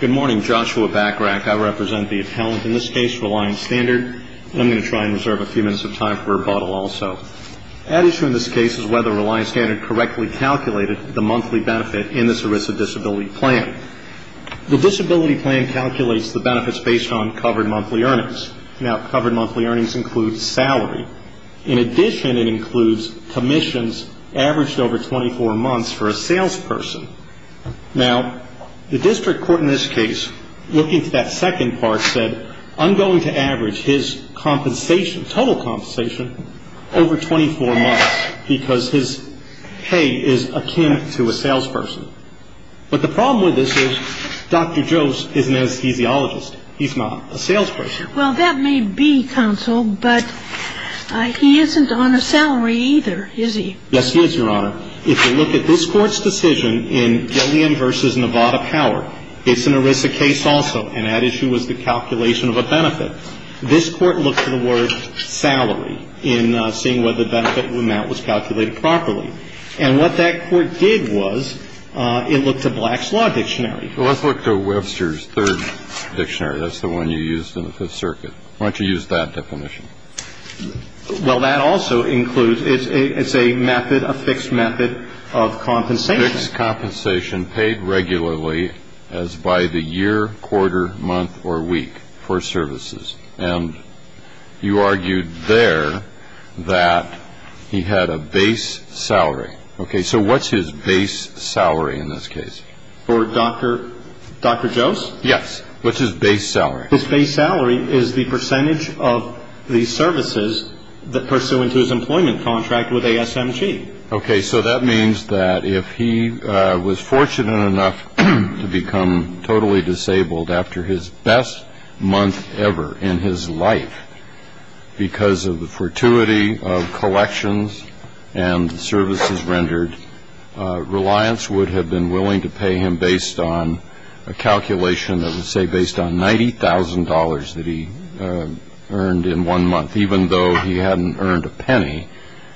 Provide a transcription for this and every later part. Good morning, Joshua Bachrach. I represent the appellant, in this case Reliance Standard, and I'm going to try and reserve a few minutes of time for rebuttal also. At issue in this case is whether Reliance Standard correctly calculated the monthly benefit in this ERISA disability plan. The disability plan calculates the benefits based on covered monthly earnings. Now, covered monthly earnings include salary. In addition, it includes commissions averaged over 24 months for a salesperson. Now, the district court in this case, looking to that second part, said I'm going to average his compensation, total compensation, over 24 months because his pay is akin to a salesperson. But the problem with this is Dr. Joas is an anesthesiologist. He's not a salesperson. Well, that may be, counsel, but he isn't on a salary either, is he? Yes, he is, Your Honor. If you look at this Court's decision in Gillian v. Nevada Power, it's an ERISA case also, and that issue was the calculation of a benefit. This Court looked to the word salary in seeing whether the benefit amount was calculated properly. And what that Court did was it looked to Black's Law Dictionary. Well, let's look to Webster's Third Dictionary. That's the one you used in the Fifth Circuit. Why don't you use that definition? Well, that also includes, it's a method, a fixed method of compensation. Fixed compensation paid regularly as by the year, quarter, month, or week for services. And you argued there that he had a base salary. Okay, so what's his base salary in this case? For Dr. Joas? Yes. What's his base salary? His base salary is the percentage of the services pursuant to his employment contract with ASMG. Okay, so that means that if he was fortunate enough to become totally disabled after his best month ever in his life because of the fortuity of collections and services rendered, reliance would have been willing to pay him based on a calculation that would say based on $90,000 that he earned in one month, even though he hadn't earned a penny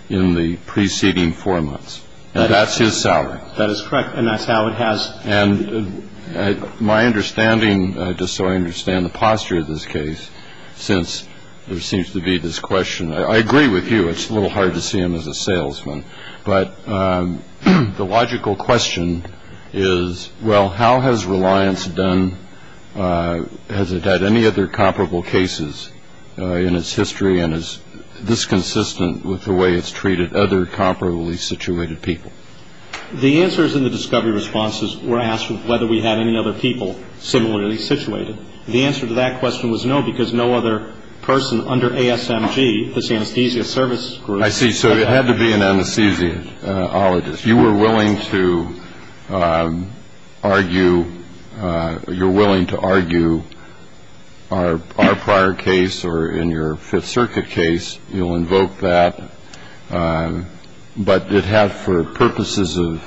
in the preceding four months. And that's his salary. That is correct. And that's how it has been. And my understanding, just so I understand the posture of this case, since there seems to be this question, I agree with you, it's a little hard to see him as a salesman. But the logical question is, well, how has reliance done? Has it had any other comparable cases in its history and is this consistent with the way it's treated other comparably situated people? The answers in the discovery responses were asked whether we had any other people similarly situated. The answer to that question was no, because no other person under ASMG, this anesthesia service group. I see. So it had to be an anesthesiologist. You were willing to argue you're willing to argue our prior case or in your Fifth Circuit case, you'll invoke that. But it had for purposes of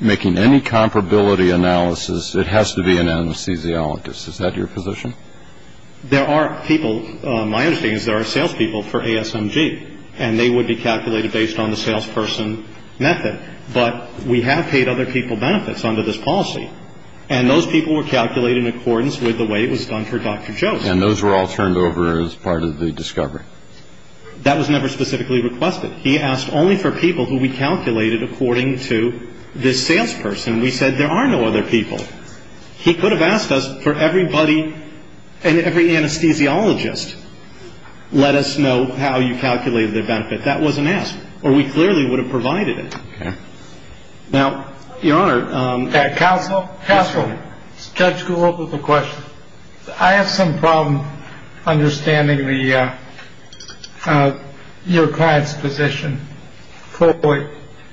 making any comparability analysis, it has to be an anesthesiologist. Is that your position? There are people. My understanding is there are salespeople for ASMG and they would be calculated based on the salesperson method. But we have paid other people benefits under this policy. And those people were calculated in accordance with the way it was done for Dr. Joe's. And those were all turned over as part of the discovery. That was never specifically requested. He asked only for people who we calculated according to this salesperson. We said there are no other people. He could have asked us for everybody and every anesthesiologist. Let us know how you calculate the benefit. That wasn't asked or we clearly would have provided it. Now, Your Honor. Counsel. Counsel. Judge Golub with a question. I have some problem understanding the your client's position.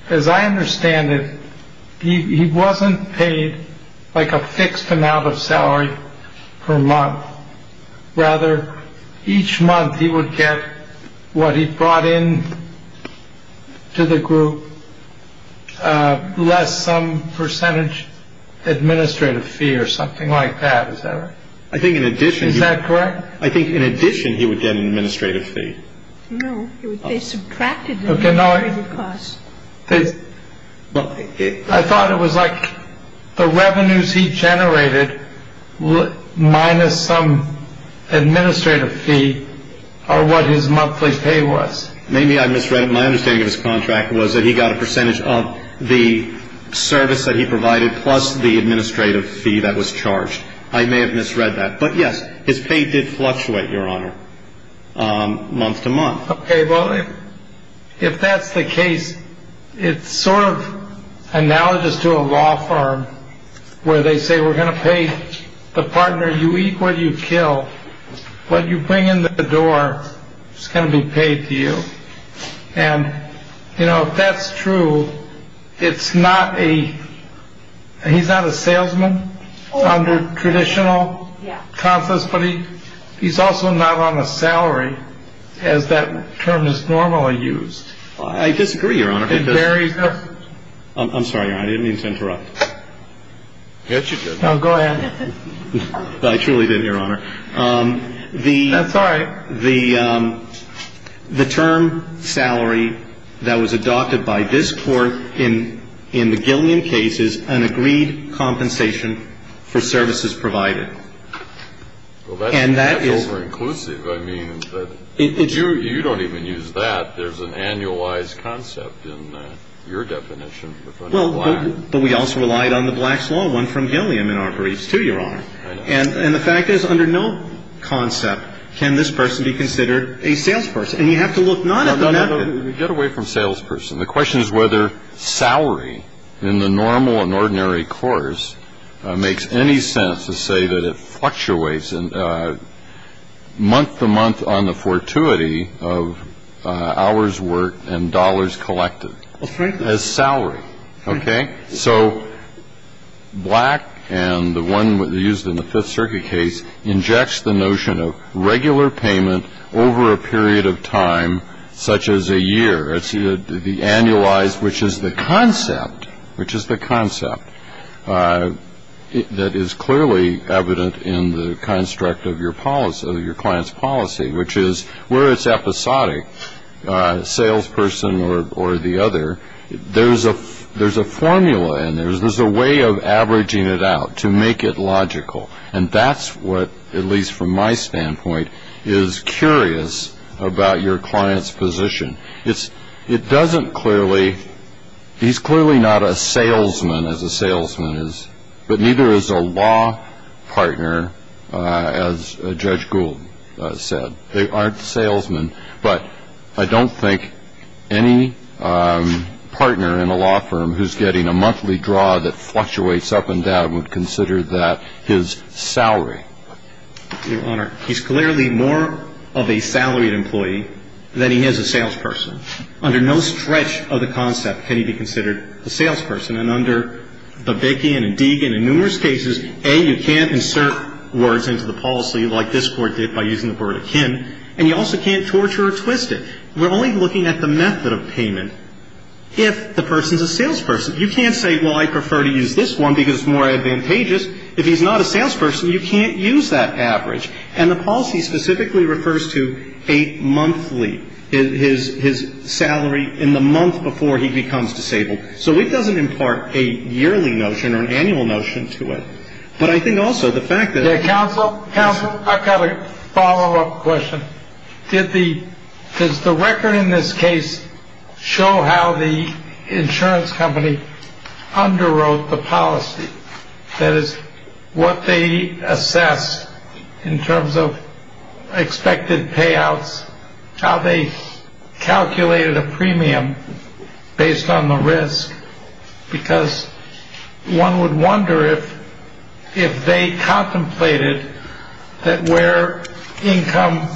As I understand it, he wasn't paid like a fixed amount of salary per month. Rather, each month he would get what he brought in to the group. Less some percentage administrative fee or something like that. I think in addition to that, correct. I think in addition, he would get an administrative fee. No, they subtracted the cost. I thought it was like the revenues he generated minus some administrative fee or what his monthly pay was. Maybe I misread it. My understanding of his contract was that he got a percentage of the service that he provided plus the administrative fee that was charged. I may have misread that. But yes, his pay did fluctuate, Your Honor. Month to month. Well, if that's the case, it's sort of analogous to a law firm where they say we're going to pay the partner. You eat what you kill. What you bring in the door is going to be paid to you. And, you know, that's true. It's not a he's not a salesman under traditional process, but he he's also not on a salary as that term is normally used. I disagree, Your Honor. I'm sorry. I didn't mean to interrupt. Go ahead. I truly did, Your Honor. I'm sorry. The the term salary that was adopted by this court in in the Gilliam case is an agreed compensation for services provided. And that is over inclusive. I mean, it's you. You don't even use that. There's an annualized concept in your definition. Well, but we also relied on the blacks law one from Gilliam in our briefs to your honor. And the fact is, under no concept can this person be considered a salesperson. And you have to look not get away from salesperson. The question is whether salary in the normal and ordinary course makes any sense to say that it fluctuates. And month to month on the fortuity of hours, work and dollars collected as salary. OK, so black and the one used in the Fifth Circuit case injects the notion of regular payment over a period of time, such as a year. It's the annualized, which is the concept, which is the concept that is clearly evident in the construct of your policy, your client's policy, which is where it's episodic salesperson or the other. There's a there's a formula and there's there's a way of averaging it out to make it logical. And that's what, at least from my standpoint, is curious about your client's position. It's it doesn't clearly he's clearly not a salesman as a salesman is, but neither is a law partner. As Judge Gould said, they aren't salesmen. But I don't think any partner in a law firm who's getting a monthly draw that fluctuates up and down would consider that his salary. Your Honor, he's clearly more of a salaried employee than he is a salesperson. Under no stretch of the concept can he be considered a salesperson. And in numerous cases, A, you can't insert words into the policy like this Court did by using the word akin. And you also can't torture or twist it. We're only looking at the method of payment if the person's a salesperson. You can't say, well, I prefer to use this one because it's more advantageous. If he's not a salesperson, you can't use that average. And the policy specifically refers to eight monthly, his his salary in the month before he becomes disabled. So it doesn't impart a yearly notion or an annual notion to it. But I think also the fact that counsel counsel, I've got a follow up question. Did the does the record in this case show how the insurance company underwrote the policy? That is what they assess in terms of expected payouts. How they calculated a premium based on the risk. Because one would wonder if if they contemplated that where income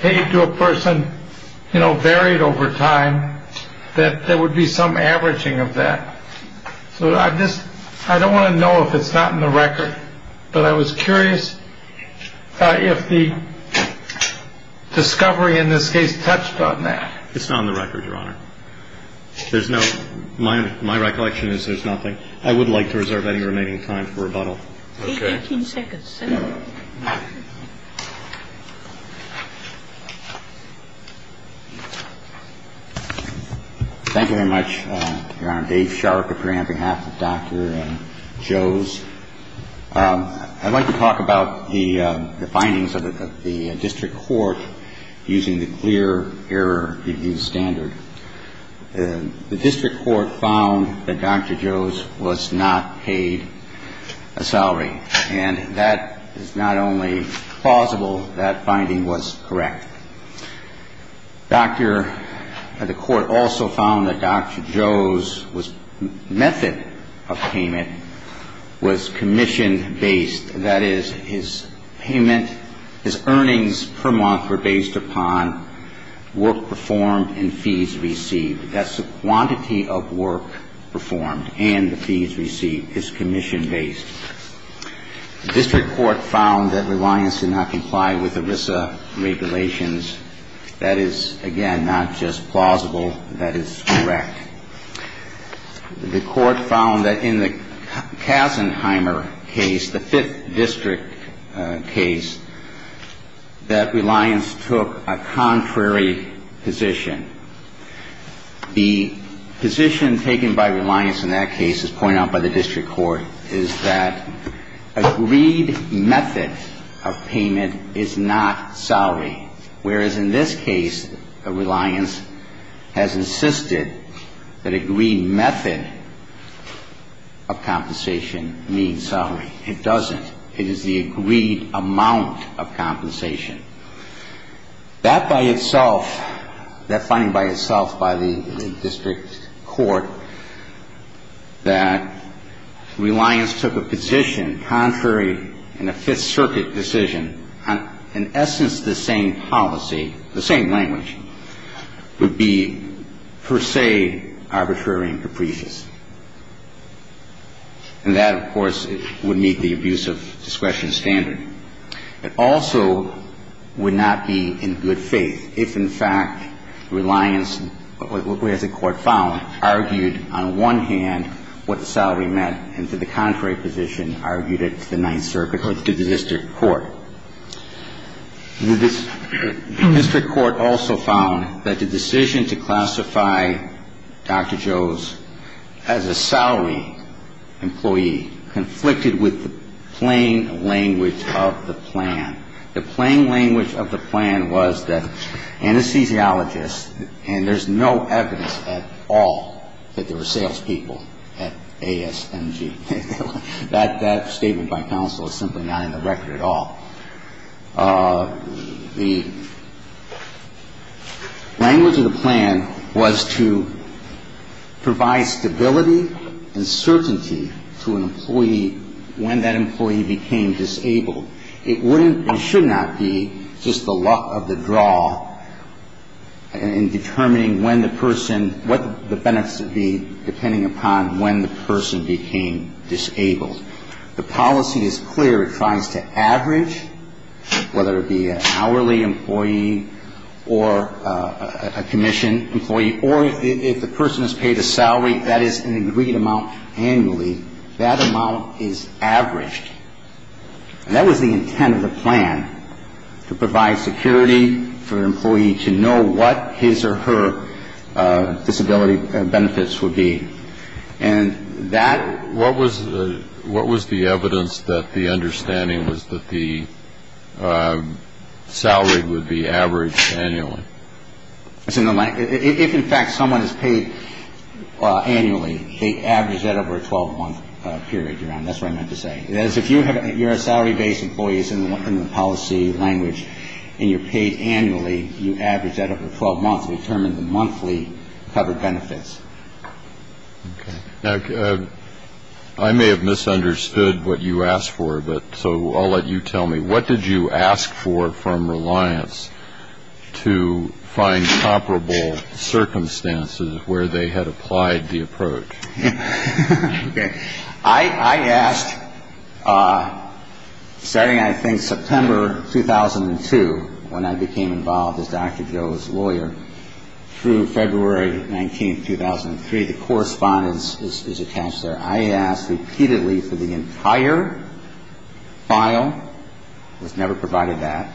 paid to a person, you know, buried over time, that there would be some averaging of that. So I just I don't want to know if it's not in the record, but I was curious if the discovery in this case touched on that. It's not on the record, Your Honor. There's no my my recollection is there's nothing I would like to reserve any remaining time for rebuttal. Thank you very much, Your Honor. Dave Sharp here on behalf of Dr. Joe's. I'd like to talk about the findings of the district court using the clear error review standard. The district court found that Dr. Joe's was not paid a salary. And that is not only plausible. That finding was correct. Dr. The court also found that Dr. Joe's was method of payment was commission based. That is, his payment, his earnings per month were based upon work performed and fees received. That's the quantity of work performed and the fees received. It's commission based. The district court found that reliance did not comply with ERISA regulations. That is, again, not just plausible. That is correct. The court found that in the Kassenheimer case, the fifth district case, that reliance took a contrary position. The position taken by reliance in that case, as pointed out by the district court, is that agreed method of payment is not salary. Whereas in this case, reliance has insisted that agreed method of compensation means salary. It doesn't. It is the agreed amount of compensation. That by itself, that finding by itself by the district court, that reliance took a position contrary in a Fifth Circuit decision. In essence, the same policy, the same language, would be per se arbitrary and capricious. And that, of course, would meet the abuse of discretion standard. It also would not be in good faith if, in fact, reliance, as the court found, argued on one hand what the salary meant and to the contrary position, argued it to the Ninth Circuit or to the district court. The district court also found that the decision to classify Dr. Joe's as a salary employee conflicted with the plain language of the plan. The plain language of the plan was that anesthesiologists, and there's no evidence at all that there were salespeople at ASMG. That statement by counsel is simply not in the record at all. The language of the plan was to provide stability and certainty to an employee when that employee became disabled. It wouldn't and should not be just the luck of the draw in determining when the person, what the benefits would be depending upon when the person became disabled. The policy is clear. It tries to average, whether it be an hourly employee or a commission employee, or if the person is paid a salary, that is an agreed amount annually. That amount is averaged. And that was the intent of the plan, to provide security for an employee to know what his or her disability benefits would be. And that... What was the evidence that the understanding was that the salary would be averaged annually? If, in fact, someone is paid annually, they average that over a 12-month period, Your Honor. That's what I meant to say. That is, if you're a salary-based employee, it's in the policy language, and you're paid annually, you average that over 12 months to determine the monthly covered benefits. Okay. Now, I may have misunderstood what you asked for, but so I'll let you tell me. What did you ask for from Reliance to find comparable circumstances where they had applied the approach? Okay. I asked, starting, I think, September 2002, when I became involved as Dr. Joe's lawyer, through February 19, 2003. The correspondence is attached there. I asked repeatedly for the entire file. It was never provided that.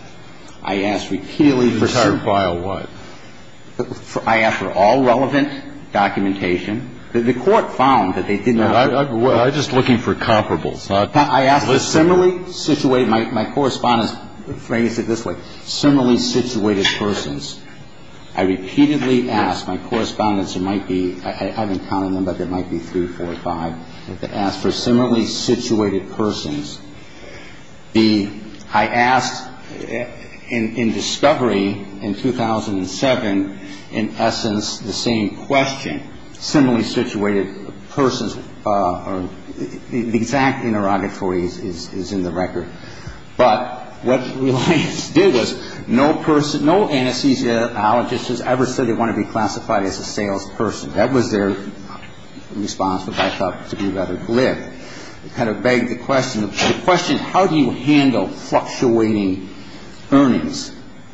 I asked repeatedly for... The entire file what? I asked for all relevant documentation. The Court found that they did not... I'm just looking for comparables, not lists. I asked for similarly situated, my correspondence phrased it this way, similarly situated persons. I repeatedly asked. My correspondence, it might be, I haven't counted them, but it might be three, four, five. I asked for similarly situated persons. I asked in discovery in 2007, in essence, the same question, similarly situated persons. The exact interrogatory is in the record. But what Reliance did was no anesthesiologist has ever said they want to be classified as a salesperson. That was their response, which I thought to be rather glib. It kind of begged the question, how do you handle fluctuating earnings,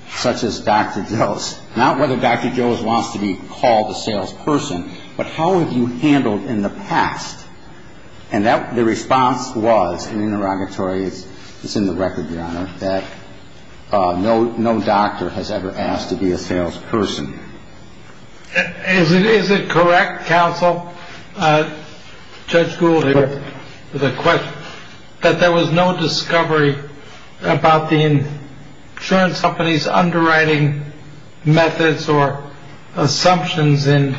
such as Dr. Joe's? Not whether Dr. Joe's wants to be called a salesperson, but how have you handled in the past? And the response was, in the interrogatory, it's in the record, Your Honor, that no doctor has ever asked to be a salesperson. Is it correct, counsel, Judge Gould, that there was no discovery about the insurance company's underwriting methods or assumptions in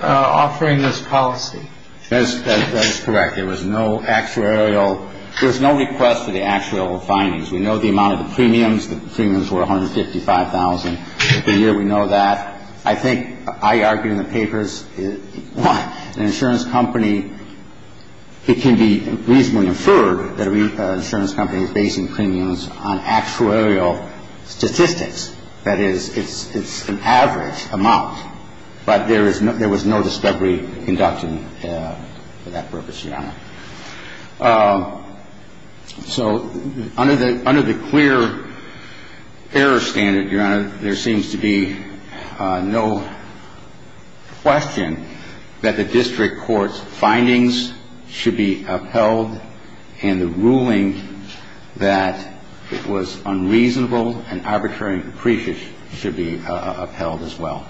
offering this policy? That is correct. There was no actuarial – there was no request for the actuarial findings. We know the amount of the premiums. The premiums were $155,000 a year. We know that. I think I argue in the papers, one, an insurance company, it can be reasonably inferred that an insurance company is basing premiums on actuarial statistics. That is, it's an average amount. But there was no discovery conducted for that purpose, Your Honor. So under the clear error standard, Your Honor, there seems to be no question that the district court's findings should be upheld, and the ruling that it was unreasonable and arbitrary and depreciate should be upheld as well.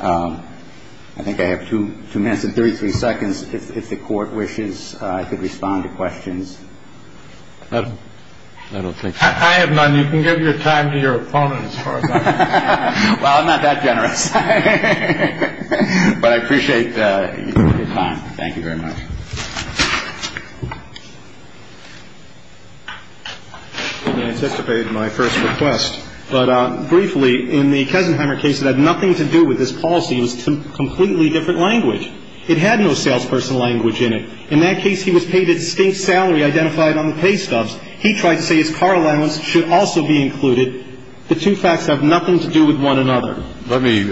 I think I have two minutes and 33 seconds. If the Court wishes, I could respond to questions. I don't think so. I have none. You can give your time to your opponent as far as I'm concerned. Well, I'm not that generous. But I appreciate your time. Thank you very much. I'm going to anticipate my first request. But briefly, in the Cousenheimer case, it had nothing to do with this policy. It was a completely different language. It had no salesperson language in it. In that case, he was paid a distinct salary identified on the pay stubs. He tried to say his car allowance should also be included. The two facts have nothing to do with one another. Let me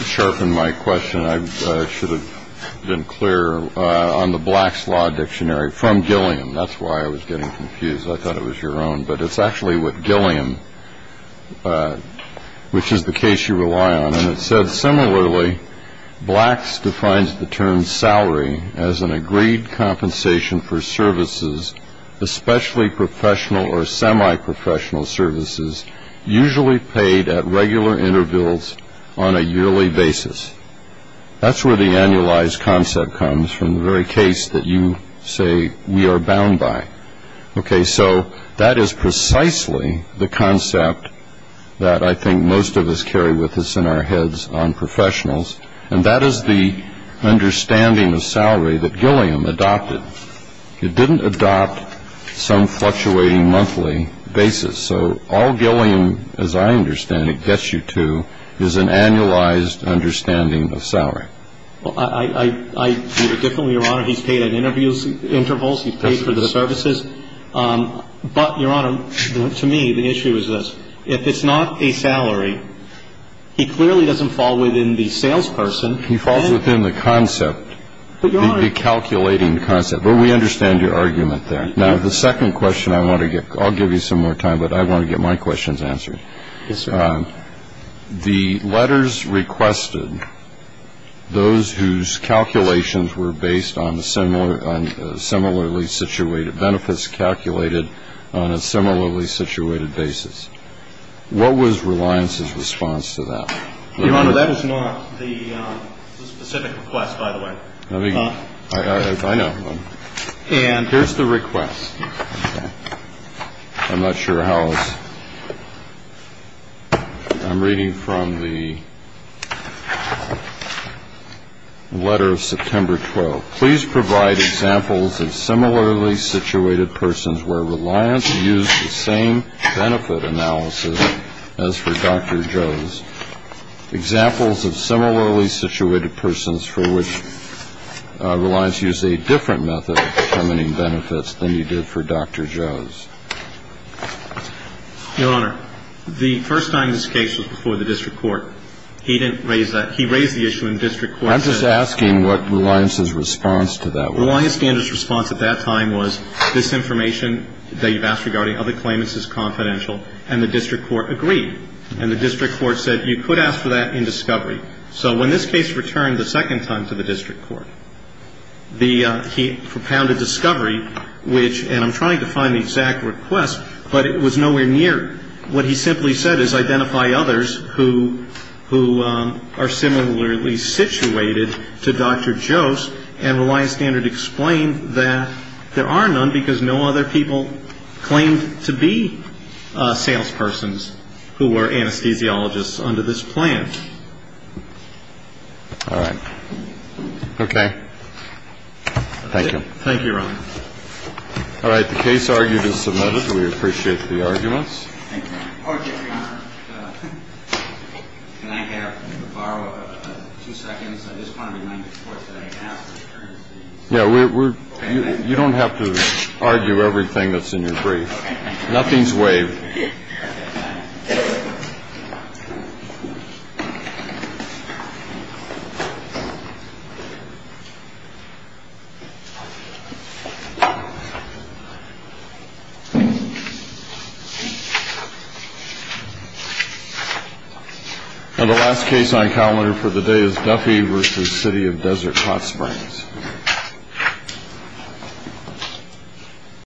sharpen my question. I should have been clearer on the Black's Law Dictionary from Gilliam. That's why I was getting confused. I thought it was your own. But it's actually with Gilliam, which is the case you rely on. And it says, similarly, Black's defines the term salary as an agreed compensation for services, especially professional or semi-professional services, usually paid at regular intervals on a yearly basis. That's where the annualized concept comes from, the very case that you say we are bound by. Okay, so that is precisely the concept that I think most of us carry with us in our heads on professionals. And that is the understanding of salary that Gilliam adopted. It didn't adopt some fluctuating monthly basis. So all Gilliam, as I understand it, gets you to is an annualized understanding of salary. Well, I view it differently, Your Honor. He's paid at intervals. He's paid for the services. But, Your Honor, to me, the issue is this. If it's not a salary, he clearly doesn't fall within the salesperson. He falls within the concept, the calculating concept. But we understand your argument there. Now, the second question I want to get, I'll give you some more time, but I want to get my questions answered. Yes, sir. The letters requested those whose calculations were based on similarly situated benefits calculated on a similarly situated basis. What was Reliance's response to that? Your Honor, that is not the specific request, by the way. I know. Here's the request. I'm not sure how. I'm reading from the letter of September 12th. Please provide examples of similarly situated persons where Reliance used the same benefit analysis as for Dr. Joe's. Examples of similarly situated persons for which Reliance used a different method of determining benefits than he did for Dr. Joe's. Your Honor, the first time this case was before the district court, he didn't raise that. He raised the issue in district court. I'm just asking what Reliance's response to that was. Reliance's response at that time was this information that you've asked regarding other claimants is confidential, and the district court agreed. And the district court said you could ask for that in discovery. So when this case returned the second time to the district court, he propounded discovery, which, and I'm trying to find the exact request, but it was nowhere near. What he simply said is identify others who are similarly situated to Dr. Joe's, and Reliance Standard explained that there are none because no other people claimed to be salespersons who were anesthesiologists under this plan. All right. Okay. Thank you. Thank you, Your Honor. All right. The case argued is submitted. We appreciate the arguments. Thank you, Your Honor. Your Honor, can I have a borrow of two seconds? I just want to remind the court that I have some currency. Yeah. You don't have to argue everything that's in your brief. Nothing's waived. Okay. And the last case on calendar for the day is Duffy v. City of Desert Hot Springs.